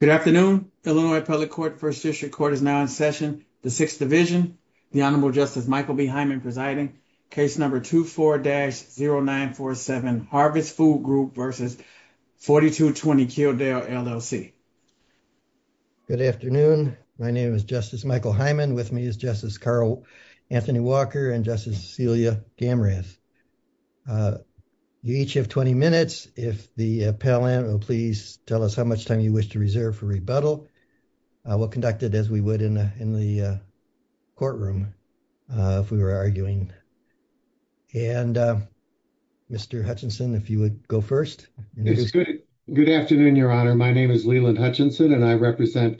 Good afternoon, Illinois Public Court, 1st District Court is now in session. The 6th Division, the Honorable Justice Michael B. Hyman presiding, case number 24-0947 Harvest Food Group v. 4220 Kildare, LLC. Good afternoon. My name is Justice Michael Hyman. With me is Justice Carl Anthony Walker and Justice Celia Gamrath. You each have 20 minutes. If the appellant will please tell us how much time you wish to reserve for rebuttal. We'll conduct it as we would in the courtroom if we were arguing. And Mr. Hutchinson, if you would go first. Good afternoon, Your Honor. My name is Leland Hutchinson, and I represent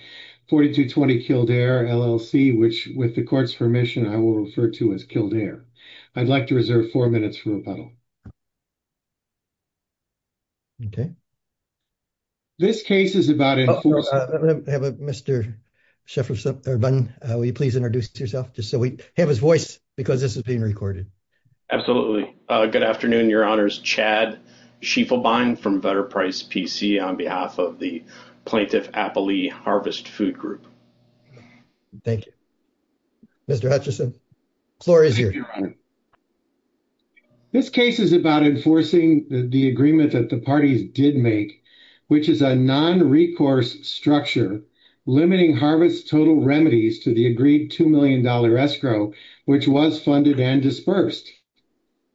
4220 Kildare, LLC, which with the court's permission, I will refer to as Kildare. I'd like to reserve four minutes for rebuttal. This case is about enforcement. Mr. Shefferson, will you please introduce yourself just so we have his voice because this is being recorded. Absolutely. Good afternoon, Your Honors. Chad Sheffelbein from Vetter Price PC on behalf of the Plaintiff Appalee Harvest Food Group. Thank you. Mr. Hutchinson, the floor is yours. This case is about enforcing the agreement that the parties did make, which is a non-recourse structure limiting harvest total remedies to the agreed $2 million escrow, which was funded and dispersed.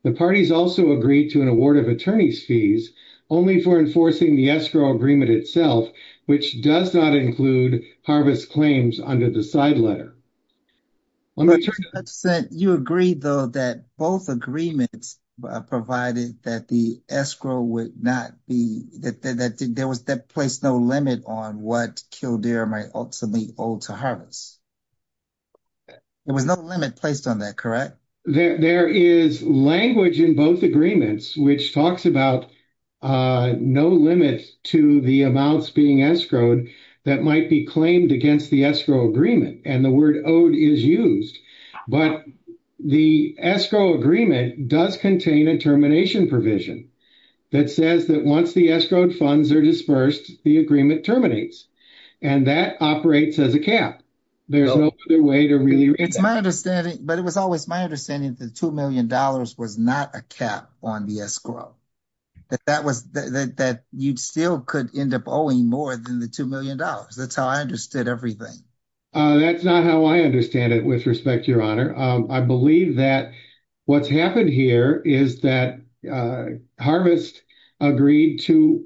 The parties also agreed to an award of attorney's fees only for enforcing the escrow agreement itself, which does not include harvest claims under the side letter. Mr. Hutchinson, you agreed, though, that both agreements provided that the escrow would not be – that there was – that placed no limit on what Kildare might ultimately owe to harvest. There was no limit placed on that, correct? There is language in both agreements which talks about no limit to the amounts being escrowed that might be claimed against the escrow agreement, and the word owed is used. But the escrow agreement does contain a termination provision that says that once the escrowed funds are dispersed, the agreement terminates, and that operates as a cap. There's no other way to really – It's my understanding – but it was always my understanding that the $2 million was not a cap on the escrow, that that was – that you still could end up owing more than the $2 million. That's how I understood everything. That's not how I understand it, with respect, Your Honor. I believe that what's happened here is that harvest agreed to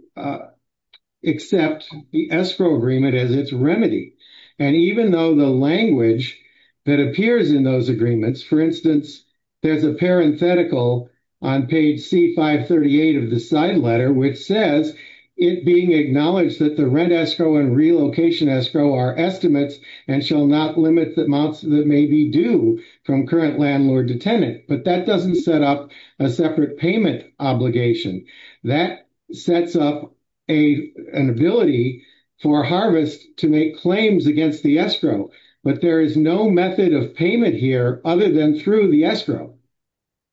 accept the escrow agreement as its remedy. And even though the language that appears in those agreements – for instance, there's a parenthetical on page C-538 of the side letter which says, it being acknowledged that the rent escrow and relocation escrow are estimates and shall not limit the amounts that may be due from current landlord to tenant. But that doesn't set up a separate payment obligation. That sets up an ability for harvest to make claims against the escrow. But there is no method of payment here other than through the escrow.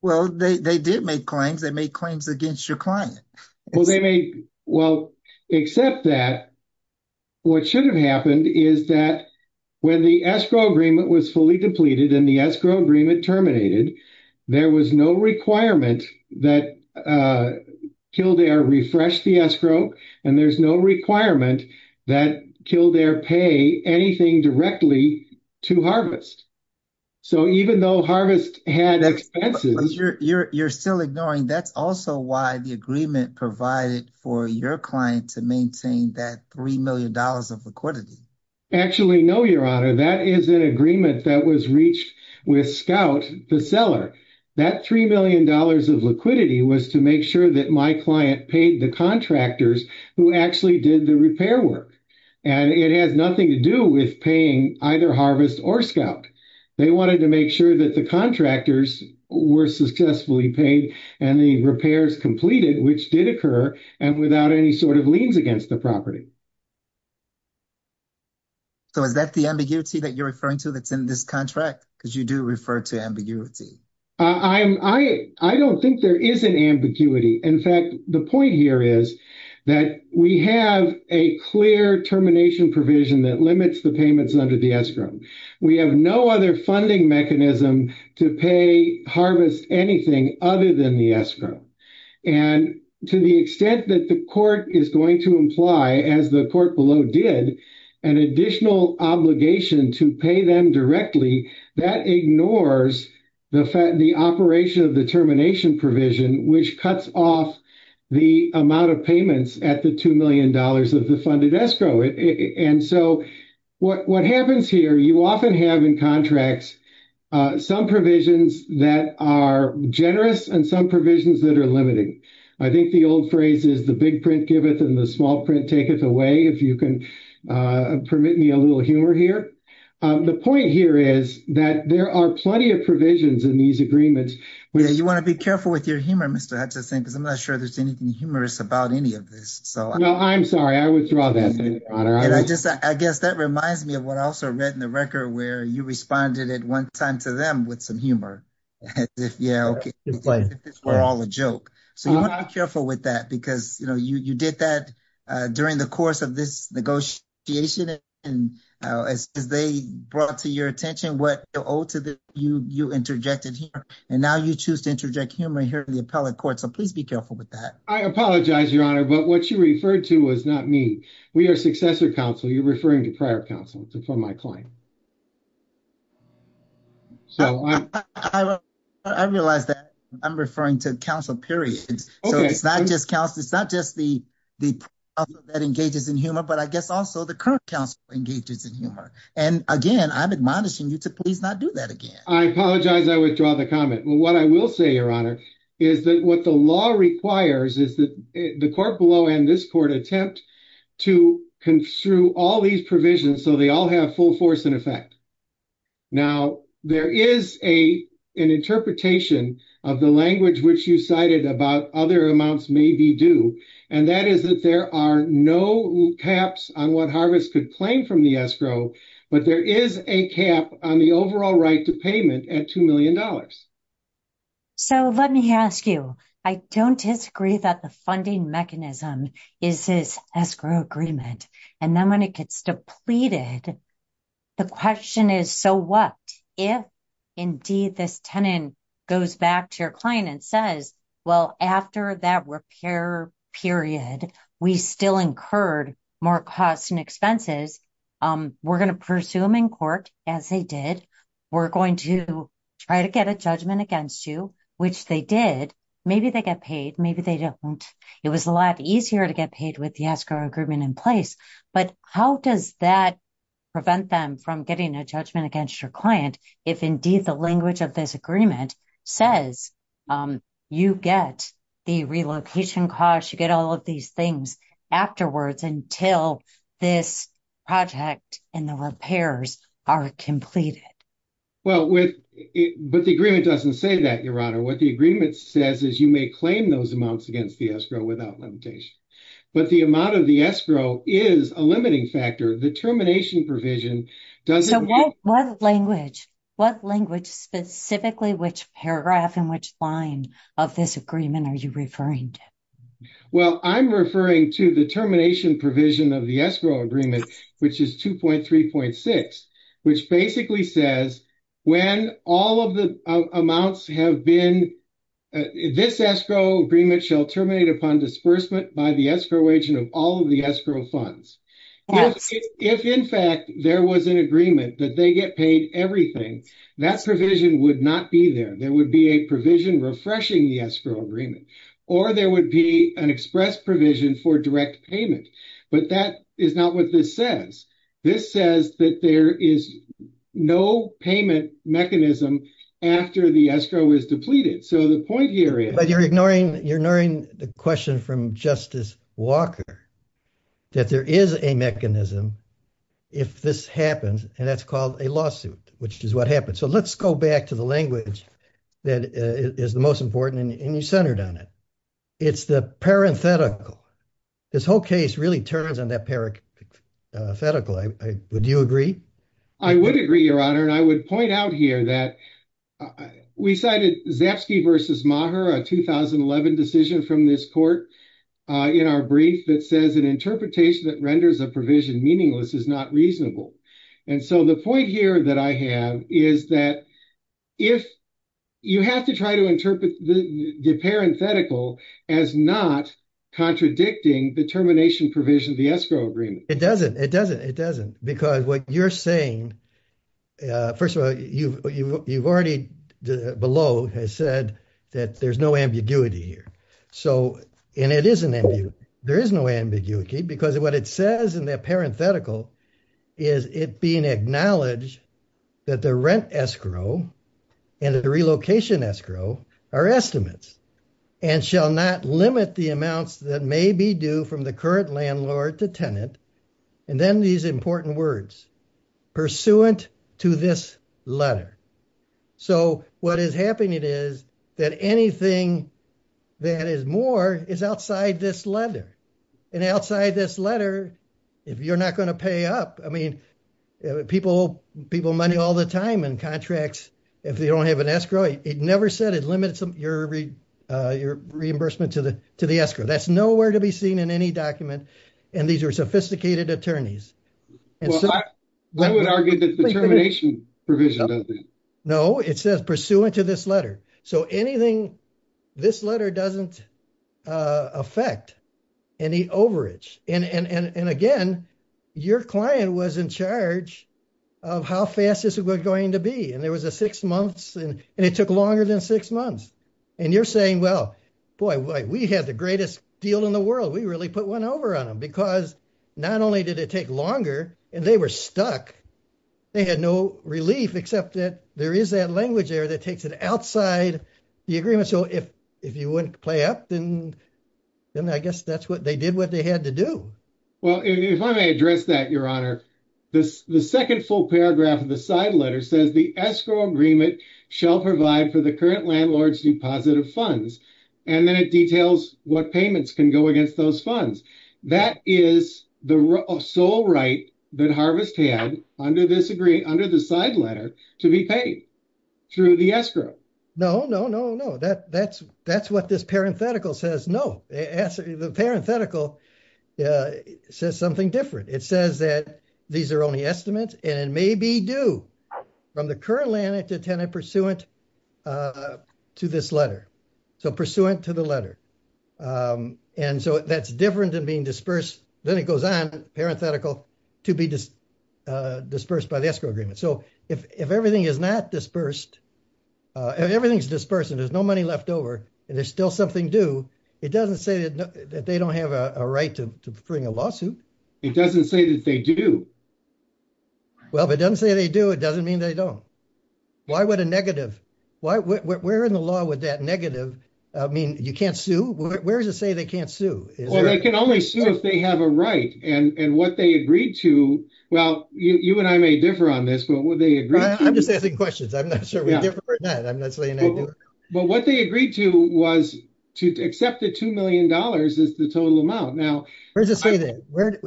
Well, they did make claims. They made claims against your client. Well, they made – well, except that what should have happened is that when the escrow agreement was fully depleted and the escrow agreement terminated, there was no requirement that Kildare refresh the escrow, and there's no requirement that Kildare pay anything directly to harvest. So even though harvest had expenses – You're still ignoring – that's also why the agreement provided for your client to maintain that $3 million of liquidity. Actually, no, Your Honor. That is an agreement that was reached with Scout, the seller. That $3 million of liquidity was to make sure that my client paid the contractors who actually did the repair work. And it has nothing to do with paying either harvest or Scout. They wanted to make sure that the contractors were successfully paid and the repairs completed, which did occur, and without any sort of liens against the property. So is that the ambiguity that you're referring to that's in this contract? Because you do refer to ambiguity. I don't think there is an ambiguity. In fact, the point here is that we have a clear termination provision that limits the payments under the escrow. We have no other funding mechanism to pay harvest anything other than the escrow. And to the extent that the court is going to imply, as the court below did, an additional obligation to pay them directly, that ignores the operation of the termination provision, which cuts off the amount of payments at the $2 million of the funded escrow. And so what happens here, you often have in contracts some provisions that are generous and some provisions that are limiting. I think the old phrase is the big print giveth and the small print taketh away, if you can permit me a little humor here. The point here is that there are plenty of provisions in these agreements. You want to be careful with your humor, Mr. Hatcher, because I'm not sure there's anything humorous about any of this. No, I'm sorry. I withdraw that. I guess that reminds me of what I also read in the record, where you responded at one time to them with some humor. As if this were all a joke. So you want to be careful with that, because you did that during the course of this negotiation. And as they brought to your attention what you owe to them, you interjected humor. And now you choose to interject humor here in the appellate court. So please be careful with that. I apologize, Your Honor, but what you referred to was not me. We are successor counsel. You're referring to prior counsel for my client. So I realize that I'm referring to counsel, period. So it's not just counsel, it's not just the counsel that engages in humor, but I guess also the current counsel engages in humor. And again, I'm admonishing you to please not do that again. I apologize. I withdraw the comment. What I will say, Your Honor, is that what the law requires is that the court below and this court attempt to construe all these provisions so they all have full force in effect. Now, there is an interpretation of the language which you cited about other amounts may be due. And that is that there are no caps on what Harvest could claim from the escrow. But there is a cap on the overall right to payment at $2 million. So let me ask you, I don't disagree that the funding mechanism is this escrow agreement. And then when it gets depleted, the question is, so what if indeed this tenant goes back to your client and says, well, after that repair period, we still incurred more costs and expenses. We're going to pursue them in court as they did. We're going to try to get a judgment against you, which they did. Maybe they get paid. Maybe they don't. It was a lot easier to get paid with the escrow agreement in place. But how does that prevent them from getting a judgment against your client if indeed the language of this agreement says you get the relocation costs, you get all of these things afterwards until this project and the repairs are completed? Well, but the agreement doesn't say that, Your Honor. What the agreement says is you may claim those amounts against the escrow without limitation. But the amount of the escrow is a limiting factor. The termination provision doesn't. So what language, what language specifically, which paragraph and which line of this agreement are you referring to? Well, I'm referring to the termination provision of the escrow agreement, which is 2.3.6, which basically says when all of the amounts have been, this escrow agreement shall terminate upon disbursement by the escrow agent of all of the escrow funds. If, in fact, there was an agreement that they get paid everything, that provision would not be there. There would be a provision refreshing the escrow agreement, or there would be an express provision for direct payment. But that is not what this says. This says that there is no payment mechanism after the escrow is depleted. But you're ignoring the question from Justice Walker that there is a mechanism if this happens, and that's called a lawsuit, which is what happened. So let's go back to the language that is the most important, and you centered on it. It's the parenthetical. This whole case really turns on that parenthetical. Would you agree? I would agree, Your Honor, and I would point out here that we cited Zapsky v. Maher, a 2011 decision from this court, in our brief that says an interpretation that renders a provision meaningless is not reasonable. And so the point here that I have is that if you have to try to interpret the parenthetical as not contradicting the termination provision of the escrow agreement. It doesn't, it doesn't, it doesn't, because what you're saying, first of all, you've already below has said that there's no ambiguity here. And it is an ambiguity. There is no ambiguity, because what it says in that parenthetical is it being acknowledged that the rent escrow and the relocation escrow are estimates and shall not limit the amounts that may be due from the current landlord to tenant. And then these important words, pursuant to this letter. So, what is happening is that anything that is more is outside this letter. And outside this letter, if you're not going to pay up, I mean, people, people money all the time and contracts, if they don't have an escrow, it never said it limits your reimbursement to the, to the escrow. That's nowhere to be seen in any document. And these are sophisticated attorneys. I would argue that the termination provision. No, it says pursuant to this letter. So anything. This letter doesn't affect any overage and again, your client was in charge of how fast is it going to be? And there was a 6 months and it took longer than 6 months. And you're saying, well, boy, we had the greatest deal in the world. We really put one over on them because not only did it take longer, and they were stuck. They had no relief except that there is that language there that takes it outside the agreement. So, if, if you wouldn't play up, then, then I guess that's what they did what they had to do. Well, if I may address that, your honor, this, the 2nd, full paragraph of the side letter says the escrow agreement shall provide for the current landlord's deposit of funds. And then it details what payments can go against those funds. That is the sole right that harvest had under this agree under the side letter to be paid through the escrow. No, no, no, no. That that's that's what this parenthetical says. No, the parenthetical says something different. It says that these are only estimates and maybe do from the current land to tenant pursuant to this letter. So pursuant to the letter. And so that's different than being dispersed. Then it goes on parenthetical to be dispersed by the escrow agreement. So, if everything is not dispersed. Everything's this person, there's no money left over and there's still something do it doesn't say that they don't have a right to bring a lawsuit. It doesn't say that they do. Well, if it doesn't say they do, it doesn't mean they don't. Why would a negative. Why we're in the law with that negative. I mean, you can't sue. Where's the say they can't sue. Well, they can only sue if they have a right and what they agreed to. Well, you and I may differ on this, but what they agree. I'm just asking questions. I'm not sure. But what they agreed to was to accept the $2M is the total amount. Now, where's the say that where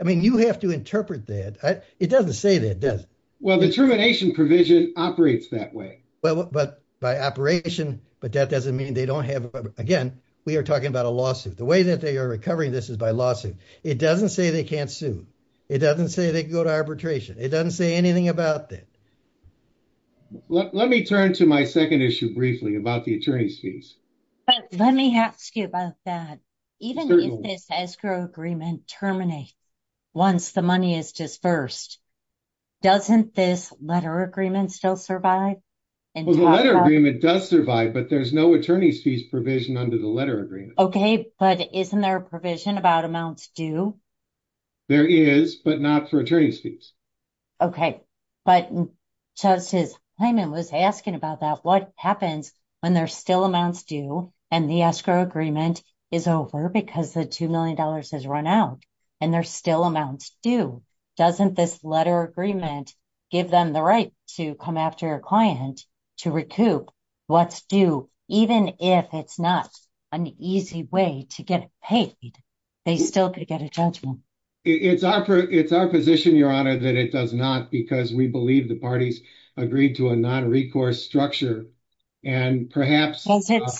I mean, you have to interpret that it doesn't say that it does. Well, the termination provision operates that way. Well, but by operation, but that doesn't mean they don't have again. We are talking about a lawsuit the way that they are recovering. This is by lawsuit. It doesn't say they can't sue. It doesn't say they go to arbitration. It doesn't say anything about that. Let me turn to my 2nd issue briefly about the attorney's fees. Let me ask you about that. Even if this escrow agreement terminate. Once the money is just 1st, doesn't this letter agreement still survive. And the letter agreement does survive, but there's no attorney's fees provision under the letter agreement. Okay. But isn't there a provision about amounts do. There is, but not for attorney's fees. Okay. But just as I was asking about that, what happens when they're still amounts do and the escrow agreement is over because the $2M has run out. And there's still amounts do doesn't this letter agreement. Give them the right to come after a client to recoup. What's do even if it's not an easy way to get paid. They still could get a judgment. It's our, it's our position. Your honor that it does not because we believe the parties agreed to a non recourse structure. And perhaps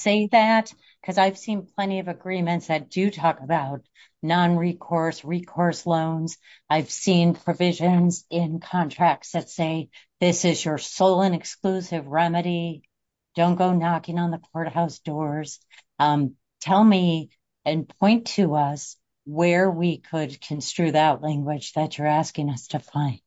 say that because I've seen plenty of agreements that do talk about non recourse recourse loans. I've seen provisions in contracts that say, this is your soul and exclusive remedy. Don't go knocking on the courthouse doors. Tell me and point to us where we could construe that language that you're asking us to find.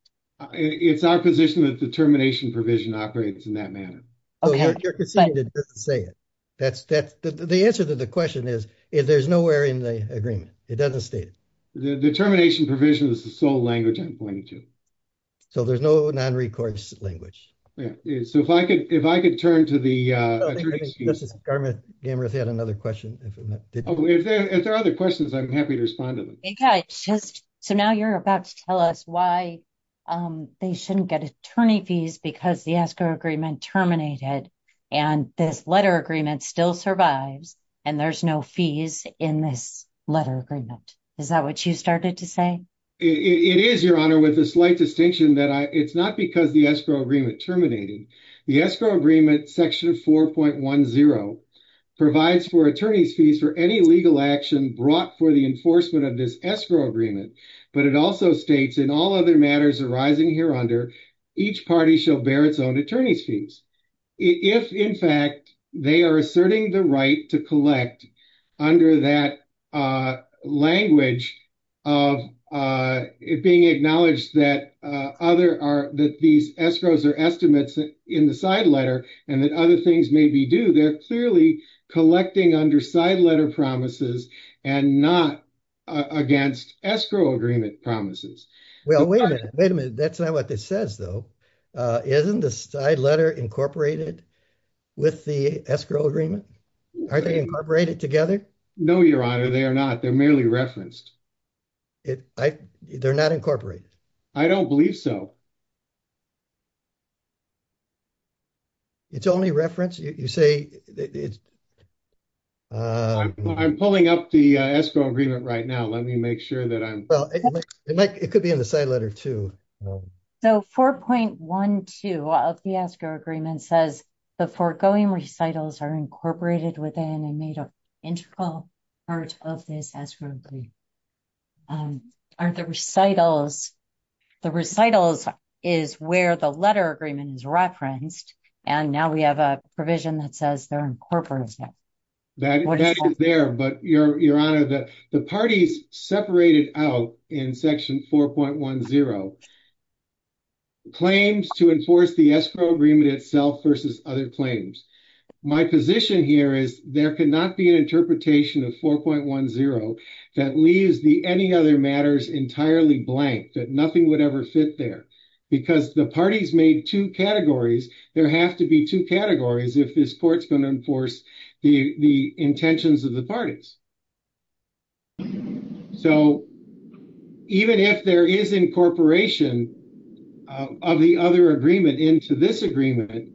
It's our position that determination provision operates in that manner. Say it. That's that's the answer to the question is, if there's nowhere in the agreement, it doesn't state the determination provision is the sole language I'm pointing to. So there's no non recourse language. So if I could, if I could turn to the government. Another question. If there are other questions I'm happy to respond to them. Just so now you're about to tell us why they shouldn't get attorney fees because the escrow agreement terminated, and this letter agreement still survives, and there's no fees in this letter agreement. Is that what you started to say. It is your honor with a slight distinction that it's not because the escrow agreement terminating the escrow agreement section of 4.10 provides for attorneys fees for any legal action brought for the enforcement of this escrow agreement. But it also states in all other matters arising here under each party shall bear its own attorneys fees. If, in fact, they are asserting the right to collect under that language of it being acknowledged that other are that these escrows are estimates in the side letter and that other things may be due. They're clearly collecting under side letter promises and not against escrow agreement promises. Well, wait a minute. Wait a minute. That's not what this says, though. Isn't the side letter incorporated with the escrow agreement? Are they incorporated together? No, your honor. They are not. They're merely referenced. They're not incorporated. I don't believe so. It's only reference you say it's. I'm pulling up the escrow agreement right now. Let me make sure that I'm like, it could be in the side letter to. So, 4.12 of the escrow agreement says the foregoing recitals are incorporated within and made an integral part of this. Are the recitals. The recitals is where the letter agreement is referenced. And now we have a provision that says they're incorporated. That is there, but your honor that the parties separated out in section 4.10 claims to enforce the escrow agreement itself versus other claims. My position here is there could not be an interpretation of 4.10 that leaves the any other matters entirely blank that nothing would ever fit there because the parties made two categories. There have to be two categories. If this court's going to enforce the intentions of the parties. So. Even if there is incorporation. Of the other agreement into this agreement.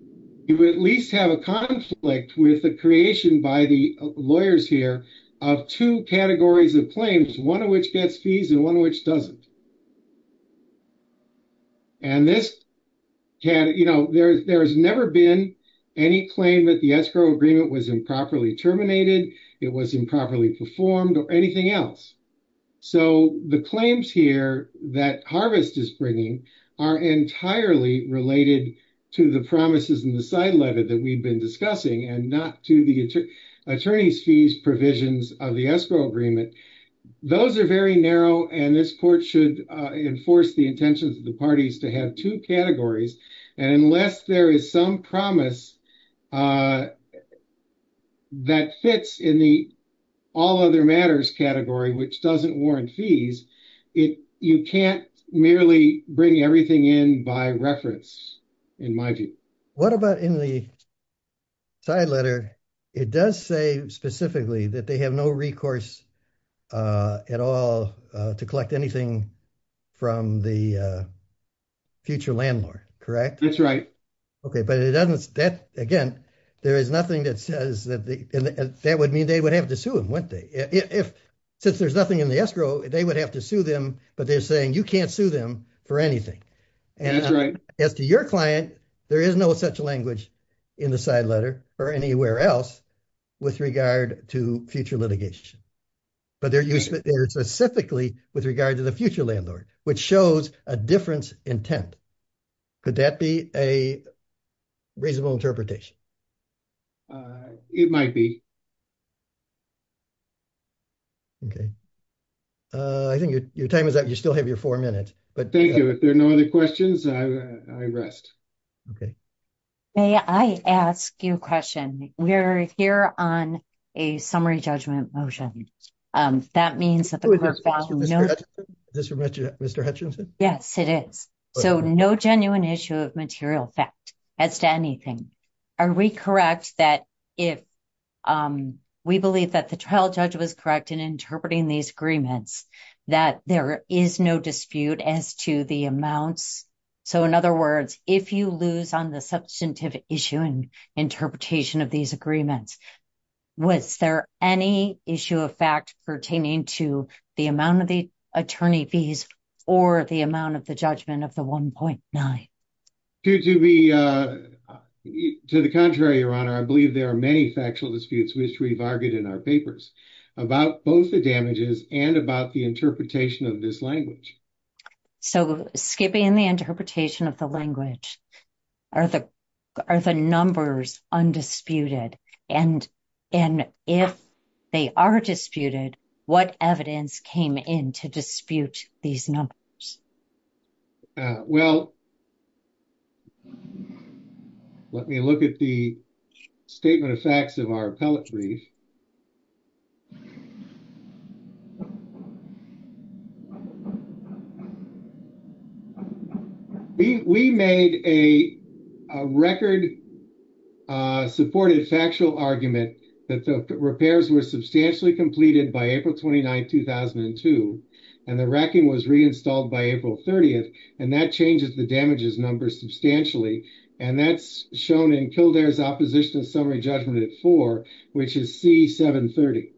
You would at least have a conflict with the creation by the lawyers here. Of two categories of claims, one of which gets fees and one of which doesn't. And this can you know there's there's never been any claim that the escrow agreement was improperly terminated. It was improperly performed or anything else. So, the claims here that harvest is bringing are entirely related to the promises in the side letter that we've been discussing and not to the attorneys fees provisions of the escrow agreement. Those are very narrow and this court should enforce the intentions of the parties to have two categories. And unless there is some promise. That fits in the all other matters category, which doesn't warrant fees it you can't merely bring everything in by reference. What about in the side letter? It does say specifically that they have no recourse. At all to collect anything from the. Future landlord, correct? That's right. Okay, but it doesn't that again. There is nothing that says that that would mean they would have to sue him when they if. Since there's nothing in the escrow, they would have to sue them, but they're saying you can't sue them for anything. And as to your client, there is no such language in the side letter or anywhere else. With regard to future litigation, but they're specifically with regard to the future landlord, which shows a difference intent. Could that be a reasonable interpretation? It might be. Okay. I think your time is that you still have your 4 minutes, but thank you. If there are no other questions, I rest. Okay, may I ask you a question? We're here on a summary judgment motion. That means that this is Mr Hutchinson. Yes, it is. So, no genuine issue of material fact as to anything. Are we correct that if we believe that the trial judge was correct in interpreting these agreements that there is no dispute as to the amounts. So, in other words, if you lose on the substantive issue and interpretation of these agreements. Was there any issue of fact pertaining to the amount of the attorney fees or the amount of the judgment of the 1.9. To be to the contrary, your honor, I believe there are many factual disputes, which we've argued in our papers about both the damages and about the interpretation of this language. So, skipping in the interpretation of the language. Are the are the numbers undisputed and. And if they are disputed, what evidence came in to dispute these numbers. Well, let me look at the. Statement of facts of our appellate brief. We made a record. Supported factual argument that the repairs were substantially completed by April 29, 2002. And the racking was reinstalled by April 30th, and that changes the damages number substantially. And that's shown until there's opposition summary judgment at 4, which is C730.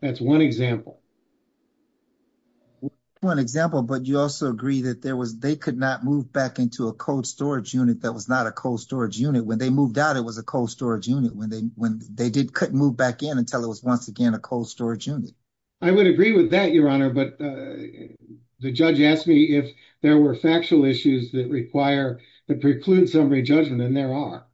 That's 1 example. 1 example, but you also agree that there was, they could not move back into a code storage unit. That was not a cold storage unit when they moved out. It was a cold storage unit when they, when they did move back in until it was once again, a cold storage unit. I would agree with that your honor, but the judge asked me if there were factual issues that require the preclude summary judgment and there are.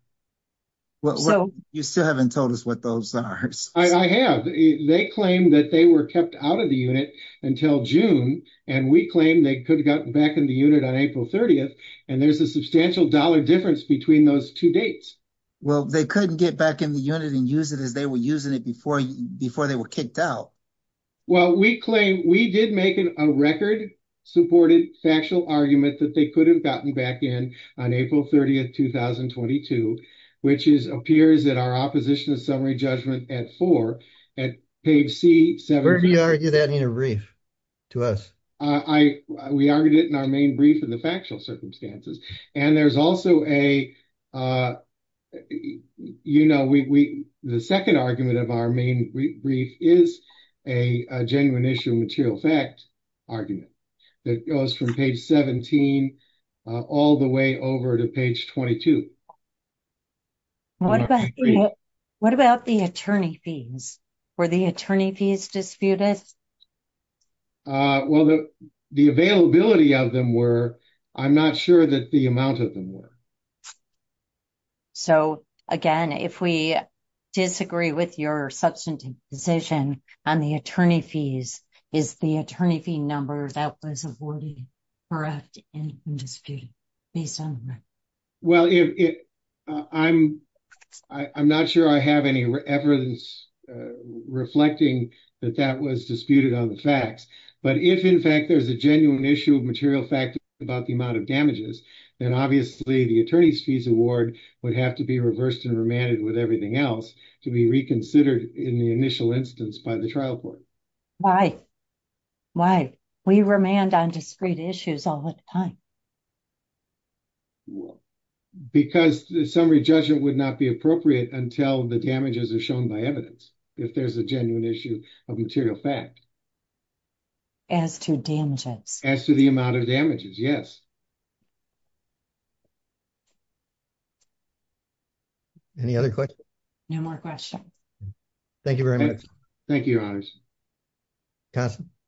Well, you still haven't told us what those are. I have they claim that they were kept out of the unit until June and we claim they could have gotten back in the unit on April 30th. And there's a substantial dollar difference between those 2 dates. Well, they couldn't get back in the unit and use it as they were using it before before they were kicked out. Well, we claim we did make a record supported factual argument that they could have gotten back in on April 30th, 2022, which is appears that our opposition is summary judgment at 4 at page C730. We argued it in our main brief in the factual circumstances and there's also a, you know, we, the 2nd argument of our main brief is a genuine issue material fact argument that goes from page 17 all the way over to page 22. What about the attorney fees for the attorney fees disputed. Well, the, the availability of them were, I'm not sure that the amount of them were. So, again, if we disagree with your substantive position on the attorney fees is the attorney fee number that was awarded. Well, if I'm, I'm not sure I have any evidence reflecting that that was disputed on the facts, but if, in fact, there's a genuine issue of material fact about the amount of damages, then obviously the attorney's fees award would have to be reversed and remanded with everything else to be reconsidered in the initial instance by the trial court. Why, why we remand on discrete issues all the time. Because the summary judgment would not be appropriate until the damages are shown by evidence. If there's a genuine issue of material fact. As to damages as to the amount of damages. Yes. Any other question. No more question. Thank you very much. Thank you.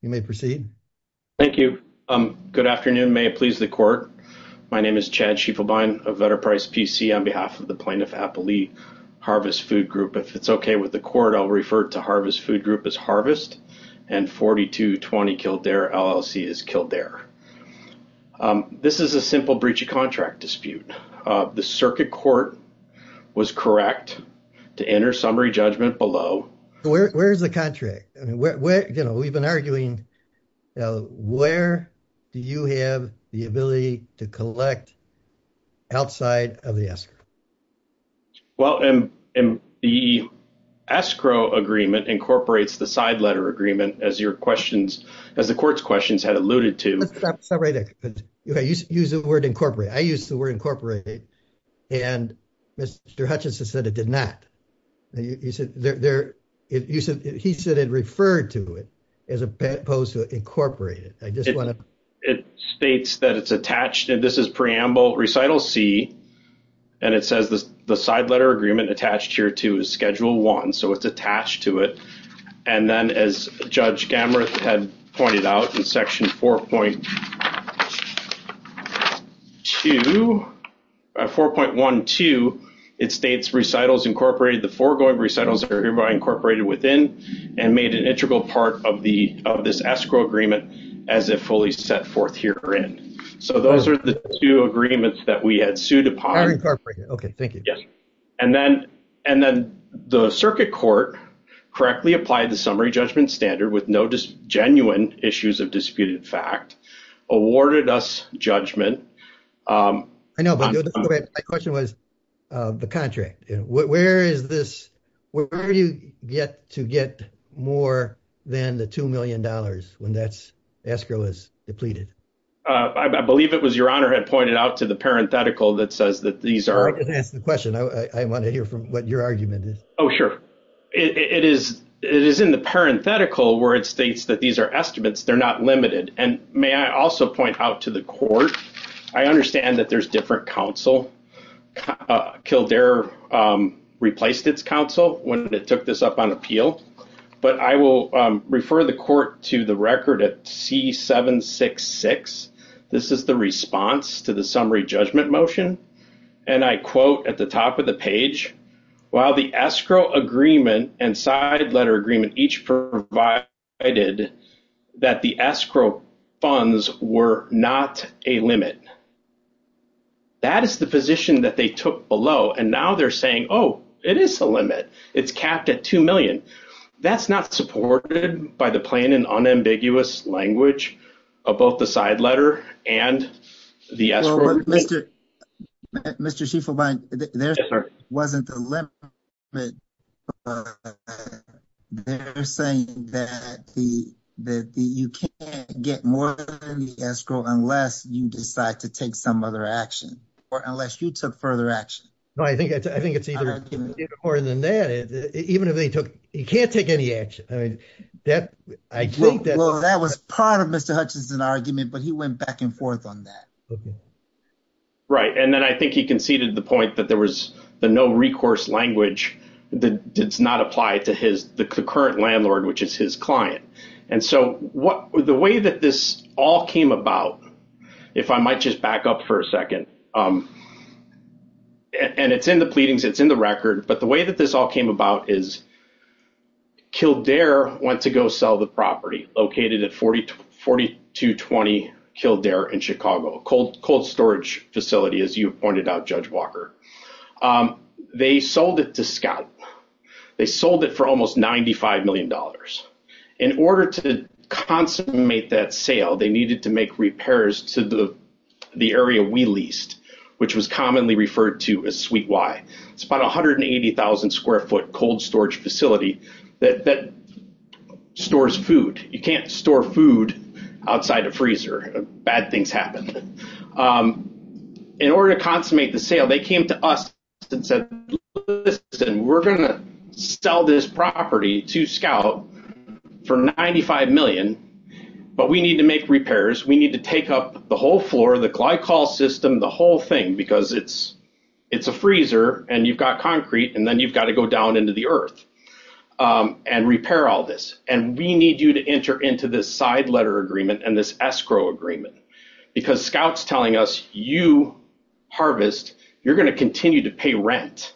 You may proceed. Thank you. Good afternoon may please the court. My name is Chad sheeple buying a better price PC on behalf of the plaintiff happily harvest food group if it's okay with the court I'll refer to harvest food group is harvest and 4220 killed their LLC is killed there. This is a simple breach of contract dispute. The circuit court was correct to enter summary judgment below. Where's the contract, where we've been arguing. Where do you have the ability to collect outside of the escrow. Well, and the escrow agreement incorporates the side letter agreement as your questions as the court's questions had alluded to. Use the word incorporate I use the word incorporated. And Mr Hutchinson said it did not. He said it referred to it as opposed to incorporate it, I just want to states that it's attached and this is preamble recital see. And it says this, the side letter agreement attached here to schedule one so it's attached to it. And then as Judge cameras had pointed out in section 4.2 4.12. It states recitals incorporated the foregoing recitals are hereby incorporated within and made an integral part of the of this escrow agreement as a fully set forth here in. So those are the two agreements that we had sued upon incorporating Okay, thank you. And then, and then the circuit court correctly applied the summary judgment standard with no just genuine issues of disputed fact awarded us judgment. I know, but the question was the contract, where is this, where are you get to get more than the $2 million when that's escrow is depleted. I believe it was your honor had pointed out to the parenthetical that says that these are going to ask the question I want to hear from what your argument is. It is, it is in the parenthetical where it states that these are estimates they're not limited, and may I also point out to the court. I understand that there's different counsel killed their replaced its counsel, when it took this up on appeal. But I will refer the court to the record at C 766. This is the response to the summary judgment motion. And I quote at the top of the page, while the escrow agreement and side letter agreement each provided that the escrow funds were not a limit. That is the position that they took below and now they're saying, oh, it is a limit. It's capped at 2 million. That's not supported by the plane and unambiguous language of both the side letter and the Mr. Chief of mine. There wasn't the limit. They're saying that the, that you can't get more than the escrow unless you decide to take some other action, or unless you took further action. I think I think it's either more than that, even if they took, you can't take any action. I think that was part of Mr. Hutchinson argument, but he went back and forth on that. Right. And then I think he conceded the point that there was the no recourse language that did not apply to his current landlord, which is his client. And so what the way that this all came about, if I might just back up for a second. And it's in the pleadings, it's in the record, but the way that this all came about is Kildare went to go sell the property located at 4240 to 20 Kildare in Chicago cold, cold storage facility, as you pointed out, Judge Walker. They sold it to scout. They sold it for almost $95 million. In order to consummate that sale they needed to make repairs to the, the area we leased, which was commonly referred to as sweet why it's about 180,000 square foot cold storage facility that stores food, you can't store food outside a freezer, bad things happen. In order to consummate the sale they came to us and said, listen, we're going to sell this property to scout for 95 million, but we need to make repairs we need to take up the whole floor the glycol system the whole thing because it's, it's a freezer, and you've got concrete and then you've got to go down into the earth and repair all this, and we need you to enter into this side letter agreement and this escrow agreement. Because scouts telling us, you harvest, you're going to continue to pay rent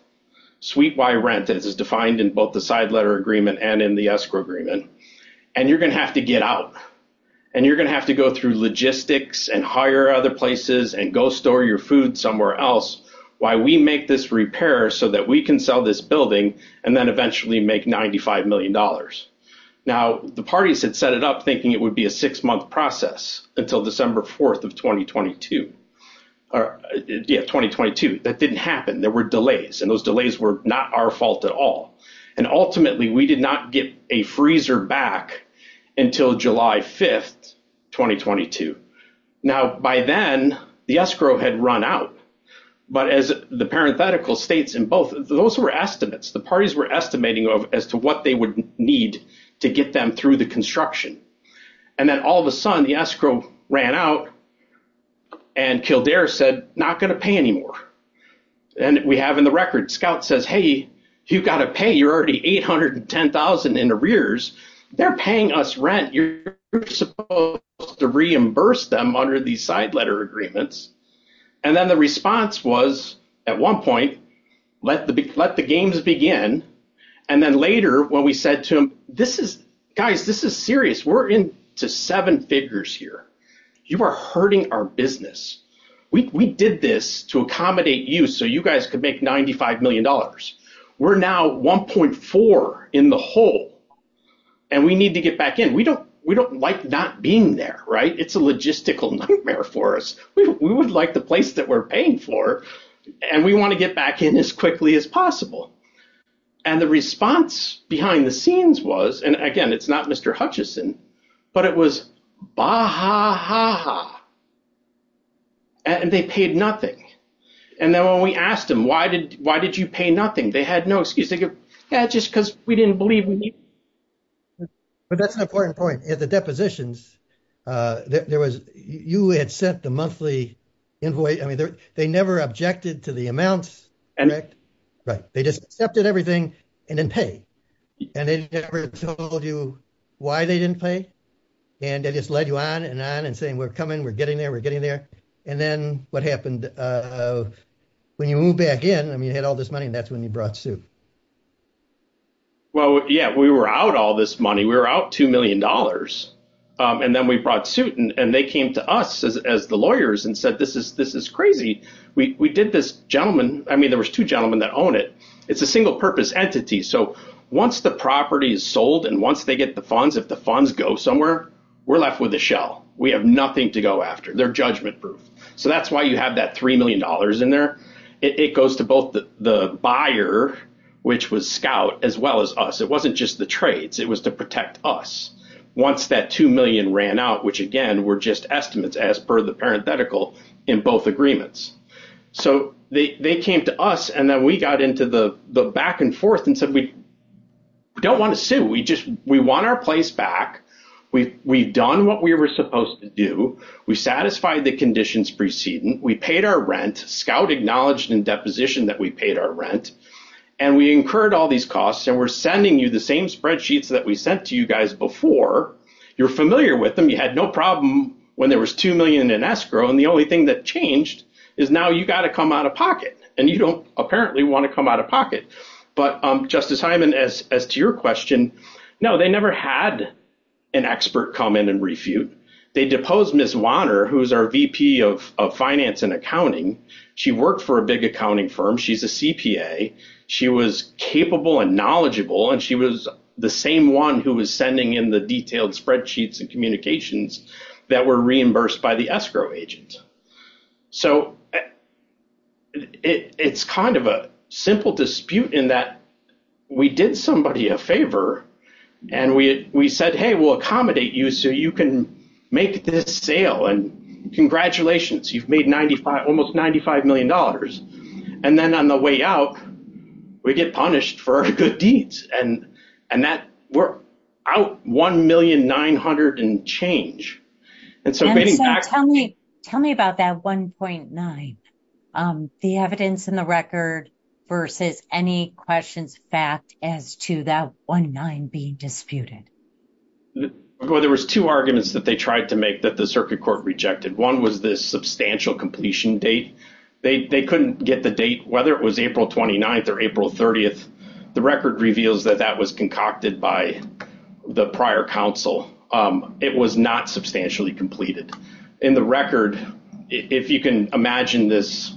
suite by rent that is defined in both the side letter agreement and in the escrow agreement. And you're going to have to get out. And you're going to have to go through logistics and hire other places and go store your food somewhere else. Why we make this repair so that we can sell this building, and then eventually make $95 million. Now, the parties had set it up thinking it would be a six month process until December 4 of 2022 or 2022 that didn't happen there were delays and those delays were not our fault at all. And ultimately we did not get a freezer back until July 5 2022. Now, by then, the escrow had run out. But as the parenthetical states in both those were estimates the parties were estimating of as to what they would need to get them through the construction. And then all of a sudden the escrow ran out and killed air said, not going to pay anymore. And we have in the record scout says hey, you got to pay you're already 810,000 in arrears, they're paying us rent you're supposed to reimburse them under the side letter agreements. And then the response was, at one point, let the big let the games begin. And then later when we said to him, this is guys this is serious we're in to seven figures here. You are hurting our business. We did this to accommodate you so you guys could make $95 million. We're now 1.4 in the hole. And we need to get back in we don't we don't like not being there right it's a logistical nightmare for us, we would like the place that we're paying for. And we want to get back in as quickly as possible. And the response behind the scenes was, and again it's not Mr. Hutchison, but it was ba ha ha ha. And they paid nothing. And then when we asked him why did, why did you pay nothing they had no excuse to go. Yeah, just because we didn't believe me. But that's an important point at the depositions. There was, you had sent the monthly invoice I mean they're, they never objected to the amounts. And, right, they just accepted everything and then pay. And they never told you why they didn't pay. And they just led you on and on and saying we're coming we're getting there we're getting there. And then what happened. When you move back in I mean you had all this money and that's when you brought suit. Well, yeah, we were out all this money we were out $2 million. And then we brought suit and they came to us as the lawyers and said this is this is crazy. We did this gentleman, I mean there was two gentlemen that own it. It's a single purpose entity so once the property is sold and once they get the funds if the funds go somewhere. We're left with a shell, we have nothing to go after their judgment proof. So that's why you have that $3 million in there. It goes to both the buyer, which was scout as well as us it wasn't just the trades it was to protect us. Once that 2 million ran out which again we're just estimates as per the parenthetical in both agreements. So they came to us and then we got into the back and forth and said we don't want to sue we just we want our place back. We've done what we were supposed to do. We satisfied the conditions preceding we paid our rent scout acknowledged in deposition that we paid our rent. And we incurred all these costs and we're sending you the same spreadsheets that we sent to you guys before you're familiar with them. We had no problem when there was 2 million in escrow and the only thing that changed is now you got to come out of pocket and you don't apparently want to come out of pocket. But I'm Justice Hyman as as to your question. No, they never had an expert come in and refute. They deposed Miss water who's our VP of finance and accounting. She worked for a big accounting firm. She's a CPA. She was capable and knowledgeable and she was the same one who was sending in the detailed spreadsheets and communications that were reimbursed by the escrow agent. So it's kind of a simple dispute in that we did somebody a favor and we we said, hey, we'll accommodate you so you can make this sale and congratulations. You've made 95 almost ninety five million dollars. And then on the way out, we get punished for good deeds. And and that we're out one million nine hundred and change. And so tell me tell me about that one point nine. The evidence in the record versus any questions. Fact as to that one nine being disputed. Well, there was two arguments that they tried to make that the circuit court rejected. One was this substantial completion date. They couldn't get the date, whether it was April 29th or April 30th. The record reveals that that was concocted by the prior counsel. It was not substantially completed in the record. If you can imagine this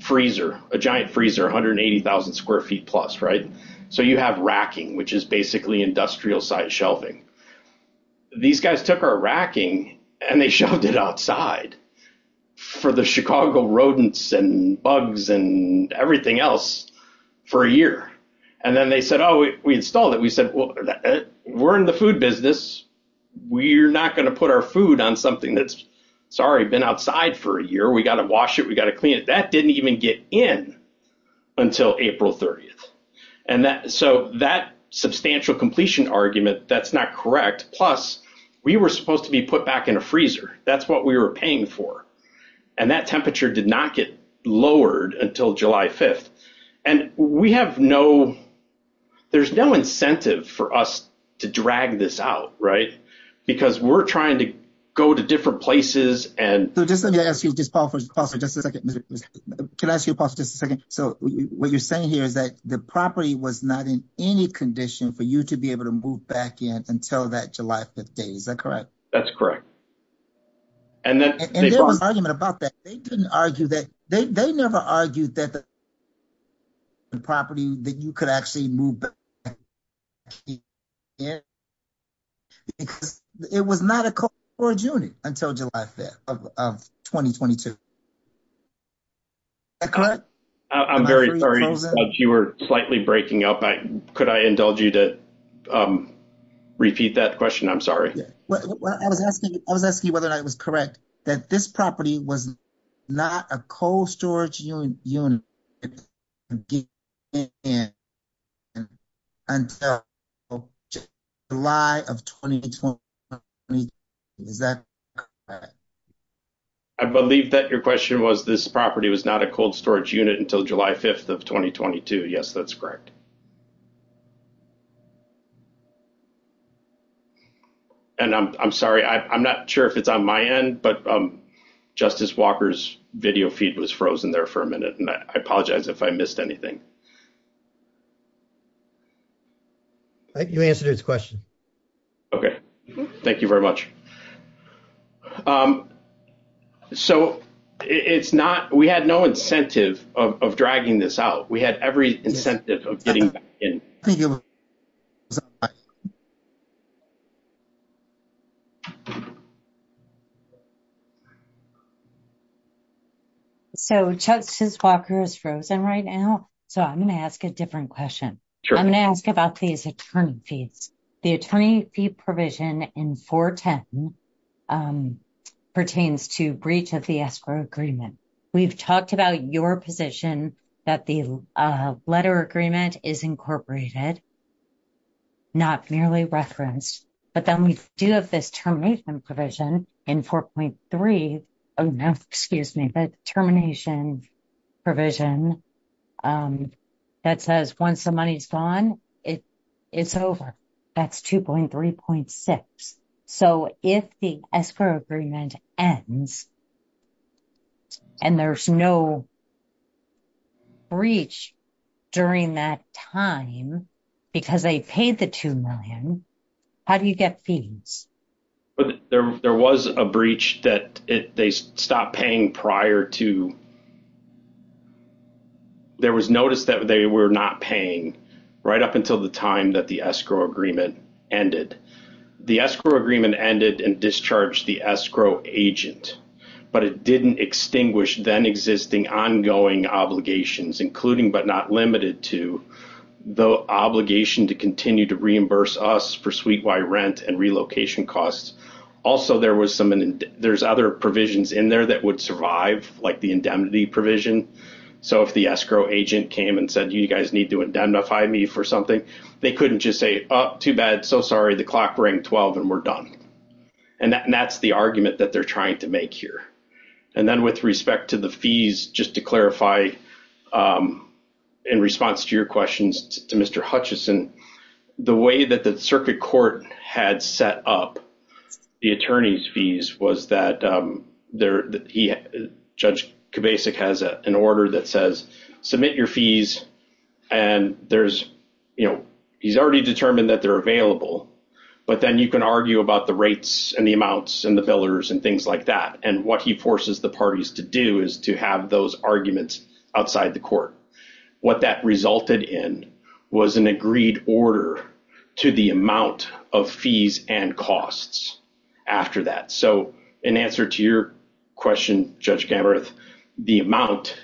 freezer, a giant freezer, one hundred and eighty thousand square feet plus. Right. So you have racking, which is basically industrial size shelving. These guys took our racking and they showed it outside for the Chicago rodents and bugs and everything else for a year. And then they said, oh, we installed it. We said, well, we're in the food business. We're not going to put our food on something that's sorry, been outside for a year. We got to wash it. We got to clean it. That didn't even get in until April 30th. And so that substantial completion argument, that's not correct. Plus, we were supposed to be put back in a freezer. That's what we were paying for. And that temperature did not get lowered until July 5th. And we have no there's no incentive for us to drag this out. Right. Because we're trying to go to different places. And so just let me ask you, just pause for just a second. Can I ask you about this? So what you're saying here is that the property was not in any condition for you to be able to move back in until that July 5th date. Is that correct? That's correct. And then there was an argument about that. They didn't argue that they never argued that the property that you could actually move. Yeah, because it was not a call for June until July 5th of 2022. I'm very sorry you were slightly breaking up. Could I indulge you to repeat that question? I'm sorry. I was asking whether that was correct that this property wasn't. Not a cold storage unit. And July of 2020. I believe that your question was this property was not a cold storage unit until July 5th of 2022. Yes, that's correct. And I'm sorry, I'm not sure if it's on my end, but justice Walker's video feed was frozen there for a minute and I apologize if I missed anything. You answered his question. Okay, thank you very much. So, it's not we had no incentive of dragging this out. We had every incentive of getting in. So, justice Walker's frozen right now. So I'm going to ask a different question. I'm going to ask about these attorney fees. The attorney fee provision in 410 pertains to breach of the escrow agreement. We've talked about your position that the letter agreement is incorporated. Not merely reference, but then we do have this termination provision in 4.3. Oh, no, excuse me, but termination. Provision that says once the money's gone, it. It's over that's 2.3.6. So, if the escrow agreement ends. And there's no breach during that time, because they paid the 2 million. How do you get fees. There was a breach that they stopped paying prior to. There was notice that they were not paying right up until the time that the escrow agreement ended. The escrow agreement ended and discharged the escrow agent, but it didn't extinguish then existing ongoing obligations, including but not limited to the obligation to continue to reimburse us for suite Y rent and relocation costs. Also, there was some there's other provisions in there that would survive, like the indemnity provision. So, if the escrow agent came and said, you guys need to indemnify me for something, they couldn't just say up to bed. So, sorry, the clock rang 12 and we're done. And that's the argument that they're trying to make here. And then, with respect to the fees, just to clarify. In response to your questions to Mr. Hutchison, the way that the circuit court had set up the attorney's fees was that they're judge basic has an order that says, submit your fees. And there's, you know, he's already determined that they're available, but then you can argue about the rates and the amounts and the billers and things like that. And what he forces the parties to do is to have those arguments outside the court. What that resulted in was an agreed order to the amount of fees and costs after that. So, in answer to your question, judge, the amount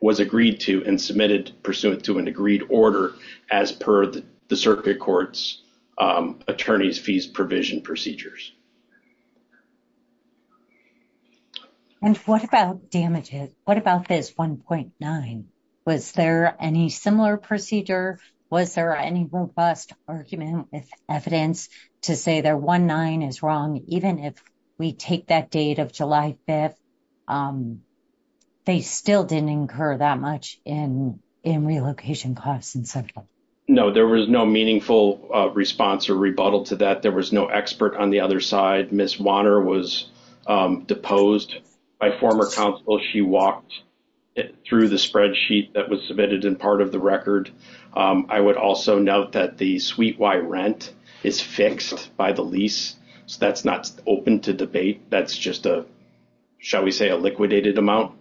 was agreed to and submitted pursuant to an agreed order as per the circuit courts attorneys fees provision procedures. And what about damages? What about this 1.9? Was there any similar procedure? Was there any robust argument with evidence to say their 1.9 is wrong? Even if we take that date of July 5th, they still didn't incur that much in relocation costs and so forth. No, there was no meaningful response or rebuttal to that. There was no expert on the other side. I would note that Ms. Wanner was deposed by former counsel. She walked through the spreadsheet that was submitted in part of the record. I would also note that the suite Y rent is fixed by the lease. So that's not open to debate. That's just a, shall we say, a liquidated amount.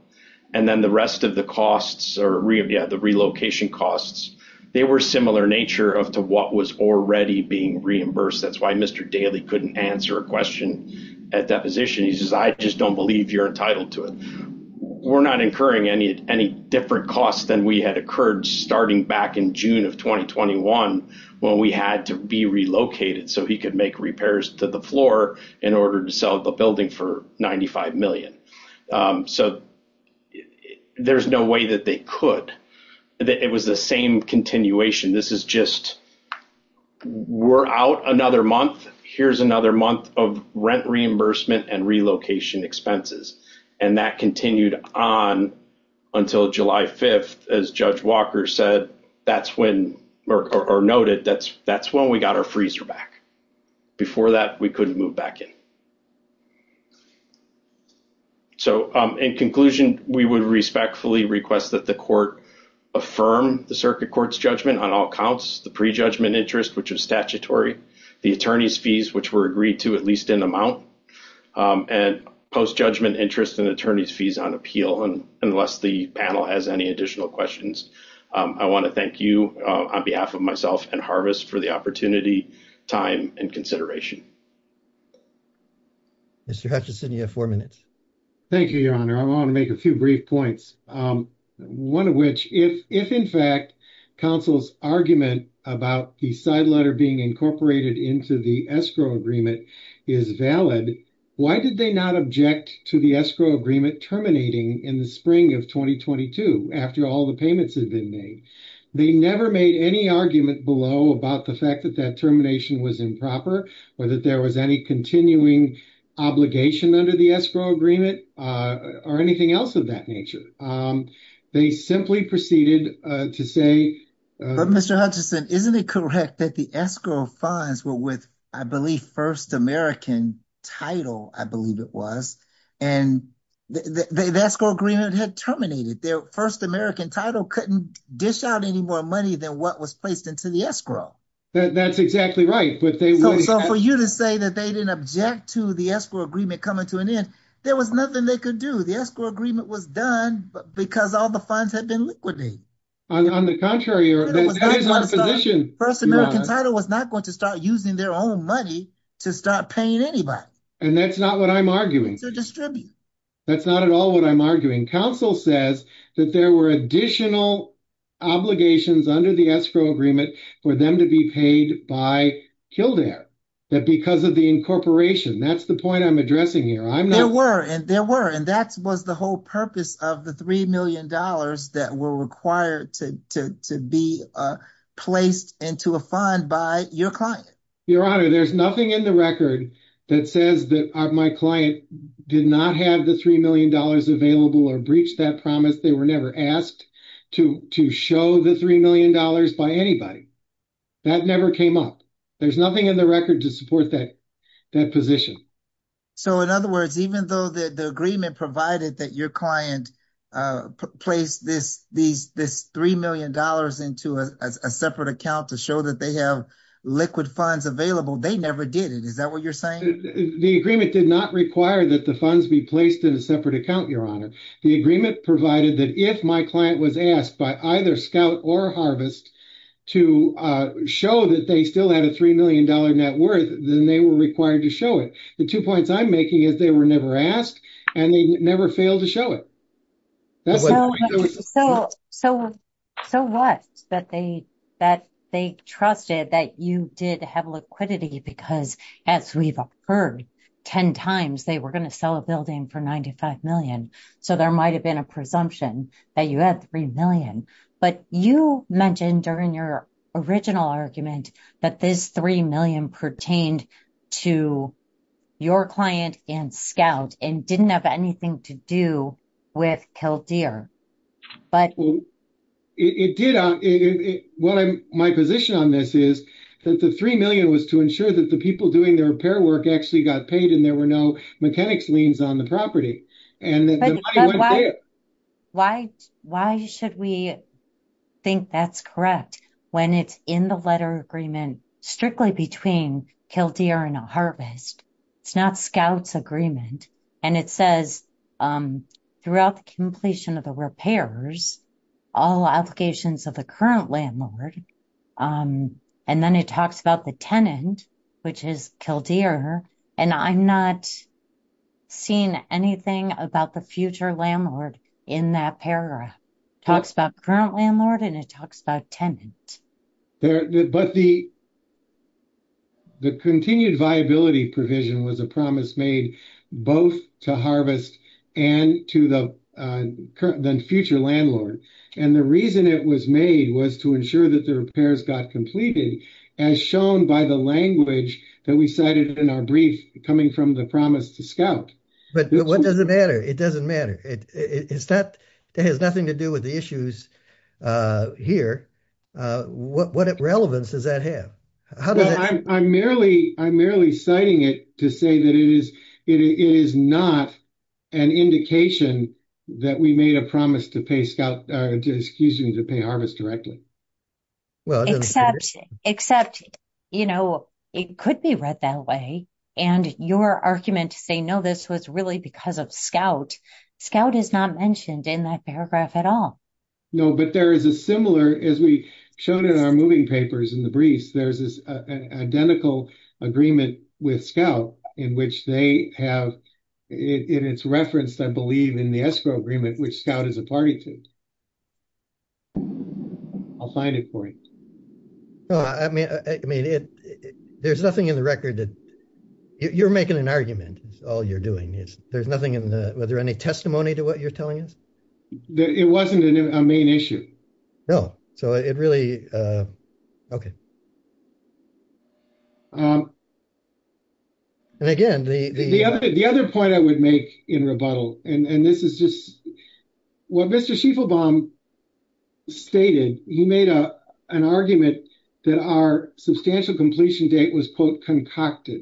And then the rest of the costs or, yeah, the relocation costs, they were similar nature of to what was already being reimbursed. That's why Mr. Daly couldn't answer a question at that position. He says, I just don't believe you're entitled to it. We're not incurring any any different costs than we had occurred starting back in June of 2021 when we had to be relocated. So he could make repairs to the floor in order to sell the building for ninety five million. So there's no way that they could. It was the same continuation. This is just we're out another month. Here's another month of rent reimbursement and relocation expenses. And that continued on until July 5th. As Judge Walker said, that's when Merck or noted that's that's when we got our freezer back. Before that, we couldn't move back in. So in conclusion, we would respectfully request that the court affirm the circuit court's judgment on all accounts, the prejudgment interest, which is statutory, the attorney's fees, which were agreed to at least in amount and post judgment interest and attorney's fees on appeal. And unless the panel has any additional questions, I want to thank you on behalf of myself and Harvest for the opportunity, time and consideration. Mr. Hutchinson, you have four minutes. Thank you, Your Honor. I want to make a few brief points, one of which, if if, in fact, counsel's argument about the side letter being incorporated into the escrow agreement is valid. Why did they not object to the escrow agreement terminating in the spring of 2022 after all the payments have been made? They never made any argument below about the fact that that termination was improper or that there was any continuing obligation under the escrow agreement or anything else of that nature. They simply proceeded to say, Mr. Hutchinson, isn't it correct that the escrow funds were with, I believe, first American title? I believe it was. And that's called Greenwood had terminated their first American title. Couldn't dish out any more money than what was placed into the escrow. That's exactly right. So for you to say that they didn't object to the escrow agreement coming to an end, there was nothing they could do. The escrow agreement was done because all the funds had been liquidated. On the contrary, your position first American title was not going to start using their own money to start paying anybody. And that's not what I'm arguing to distribute. That's not at all what I'm arguing. Counsel says that there were additional obligations under the escrow agreement for them to be paid by Kildare that because of the incorporation. That's the point I'm addressing here. I'm there were and there were. And that was the whole purpose of the three million dollars that were required to be placed into a fund by your client. Your Honor, there's nothing in the record that says that my client did not have the three million dollars available or breached that promise. They were never asked to to show the three million dollars by anybody that never came up. There's nothing in the record to support that that position. So, in other words, even though the agreement provided that your client placed this these this three million dollars into a separate account to show that they have liquid funds available, they never did. And is that what you're saying? The agreement did not require that the funds be placed in a separate account. Your Honor, the agreement provided that if my client was asked by either scout or harvest to show that they still had a three million dollar net worth, then they were required to show it. The two points I'm making is they were never asked and they never failed to show it. So, so, so what that they that they trusted that you did have liquidity because as we've heard 10 times, they were going to sell a building for 95Million. So, there might have been a presumption that you had 3Million, but you mentioned during your original argument that this 3Million pertained to. To your client and scout and didn't have anything to do with Kildare. But it did what I'm my position on this is that the 3Million was to ensure that the people doing their repair work actually got paid and there were no mechanics liens on the property. Why, why should we think that's correct when it's in the letter agreement, strictly between Kildare and a harvest. It's not scouts agreement and it says throughout the completion of the repairs, all applications of the current landlord. And then it talks about the tenant, which is Kildare and I'm not seeing anything about the future landlord in that paragraph talks about current landlord and it talks about tenant. There, but the. The continued viability provision was a promise made both to harvest and to the current than future landlord. And the reason it was made was to ensure that the repairs got completed as shown by the language that we cited in our brief coming from the promise to scout. But what does it matter? It doesn't matter. It is that it has nothing to do with the issues here. What relevance does that have? I'm merely I'm merely citing it to say that it is it is not an indication that we made a promise to pay scout to excuse you to pay harvest directly. Well, except, except, you know, it could be read that way. And your argument to say, no, this was really because of scout scout is not mentioned in that paragraph at all. No, but there is a similar as we showed in our moving papers in the briefs. There's this identical agreement with scout in which they have it. It's referenced. I believe in the escrow agreement, which scout is a party to. I'll find it for you. I mean, I mean, it there's nothing in the record that you're making an argument. All you're doing is there's nothing in the whether any testimony to what you're telling us. It wasn't a main issue. No. So it really. Okay. And again, the, the, the other point I would make in rebuttal. And this is just what Mr Schieffelbaum stated. He made up an argument that are substantial completion date was quote concocted.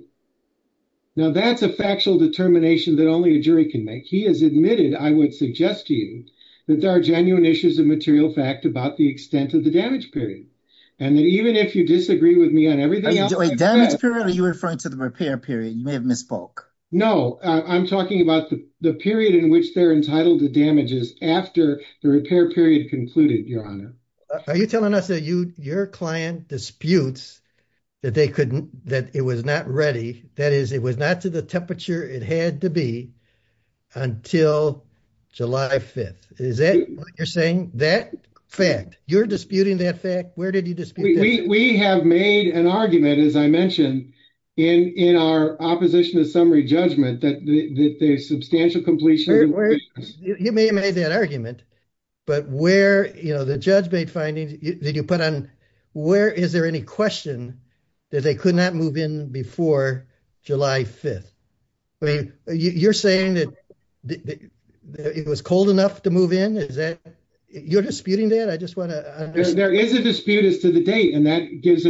Now, that's a factual determination that only a jury can make. He has admitted. I would suggest to you that there are genuine issues of material fact about the extent of the damage period. And then even if you disagree with me on everything. Are you referring to the repair period? You may have misspoke. No, I'm talking about the period in which they're entitled to damages after the repair period concluded. Your Honor. Are you telling us that you, your client disputes that they couldn't that it was not ready. That is, it was not to the temperature. It had to be until July 5th. Is that what you're saying? That fact you're disputing that fact. Where did you just. We have made an argument, as I mentioned in in our opposition to summary judgment that the substantial completion. You may have made that argument. But where, you know, the judge made findings that you put on where is there any question that they could not move in before July 5th. I mean, you're saying that it was cold enough to move in. Is that you're disputing that I just want to. There is a dispute is to the date and that gives.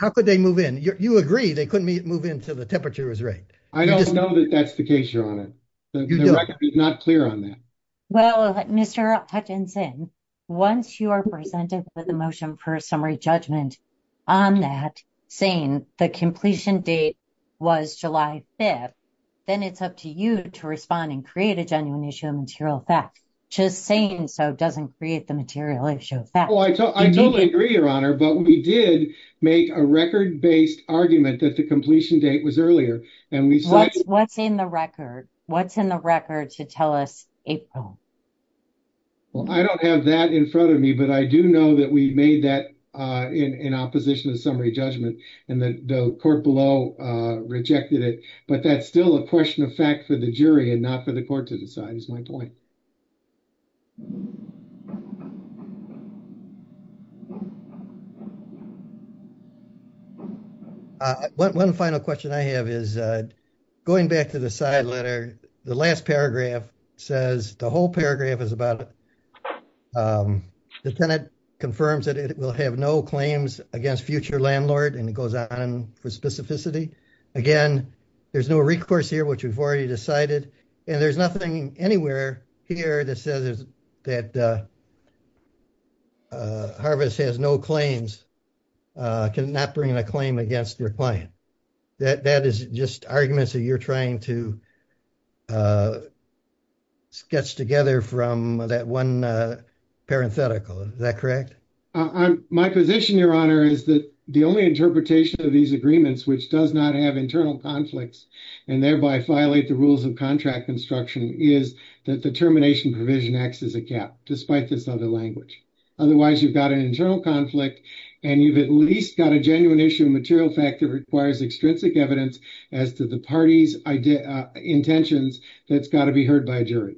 How could they move in? You agree they couldn't move into the temperature is right. I don't know that that's the case. You're on it. It's not clear on that. Well, Mr Hutchinson. Once you are presented with a motion for a summary judgment on that saying the completion date was July 5th. Then it's up to you to respond and create a genuine issue material fact. Just saying so doesn't create the material issue. I totally agree your honor, but we did make a record based argument that the completion date was earlier. What's in the record? What's in the record to tell us April? Well, I don't have that in front of me, but I do know that we made that in opposition of summary judgment and the court below rejected it. But that's still a question of fact for the jury and not for the court to decide is my point. One final question I have is going back to the side letter. The last paragraph says the whole paragraph is about. The tenant confirms that it will have no claims against future landlord and it goes on for specificity again. There's no recourse here, which we've already decided and there's nothing anywhere here that says that. Harvest has no claims, cannot bring a claim against their client. That is just arguments that you're trying to. Sketch together from that one parenthetical. Is that correct? My position your honor is that the only interpretation of these agreements, which does not have internal conflicts and thereby violate the rules of contract construction is that the termination provision acts as a gap. Despite this other language. Otherwise, you've got an internal conflict and you've at least got a genuine issue material factor requires extrinsic evidence as to the parties intentions. That's got to be heard by a jury.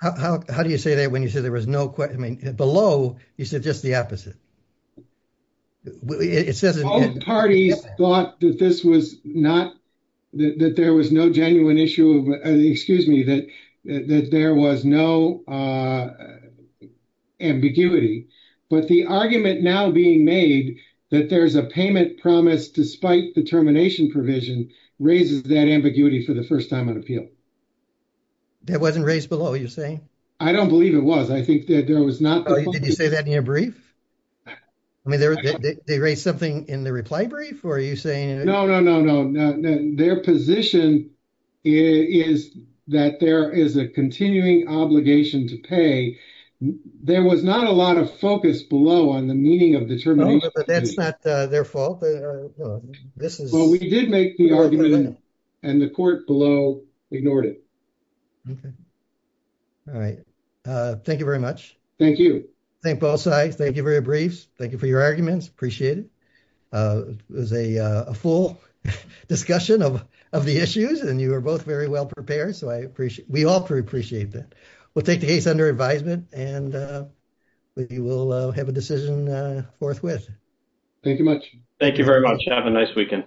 How do you say that when you say there was no below you said just the opposite. It says parties thought that this was not that there was no genuine issue. Excuse me that that there was no. Ambiguity, but the argument now being made that there's a payment promise, despite the termination provision raises that ambiguity for the 1st time on appeal. That wasn't raised below. You're saying I don't believe it was. I think that there was not. Did you say that in your brief. I mean, they raised something in the reply brief. Are you saying no, no, no, no, no, no. Their position is that there is a continuing obligation to pay. There was not a lot of focus below on the meaning of the term. That's not their fault. This is what we did make the argument and the court below ignored it. All right. Thank you very much. Thank you. Thank both sides. Thank you. Very brief. Thank you for your arguments. Appreciate it. It was a full discussion of of the issues and you are both very well prepared. So I appreciate we all appreciate that. We'll take the case under advisement and we will have a decision forthwith. Thank you much. Thank you very much. Have a nice weekend.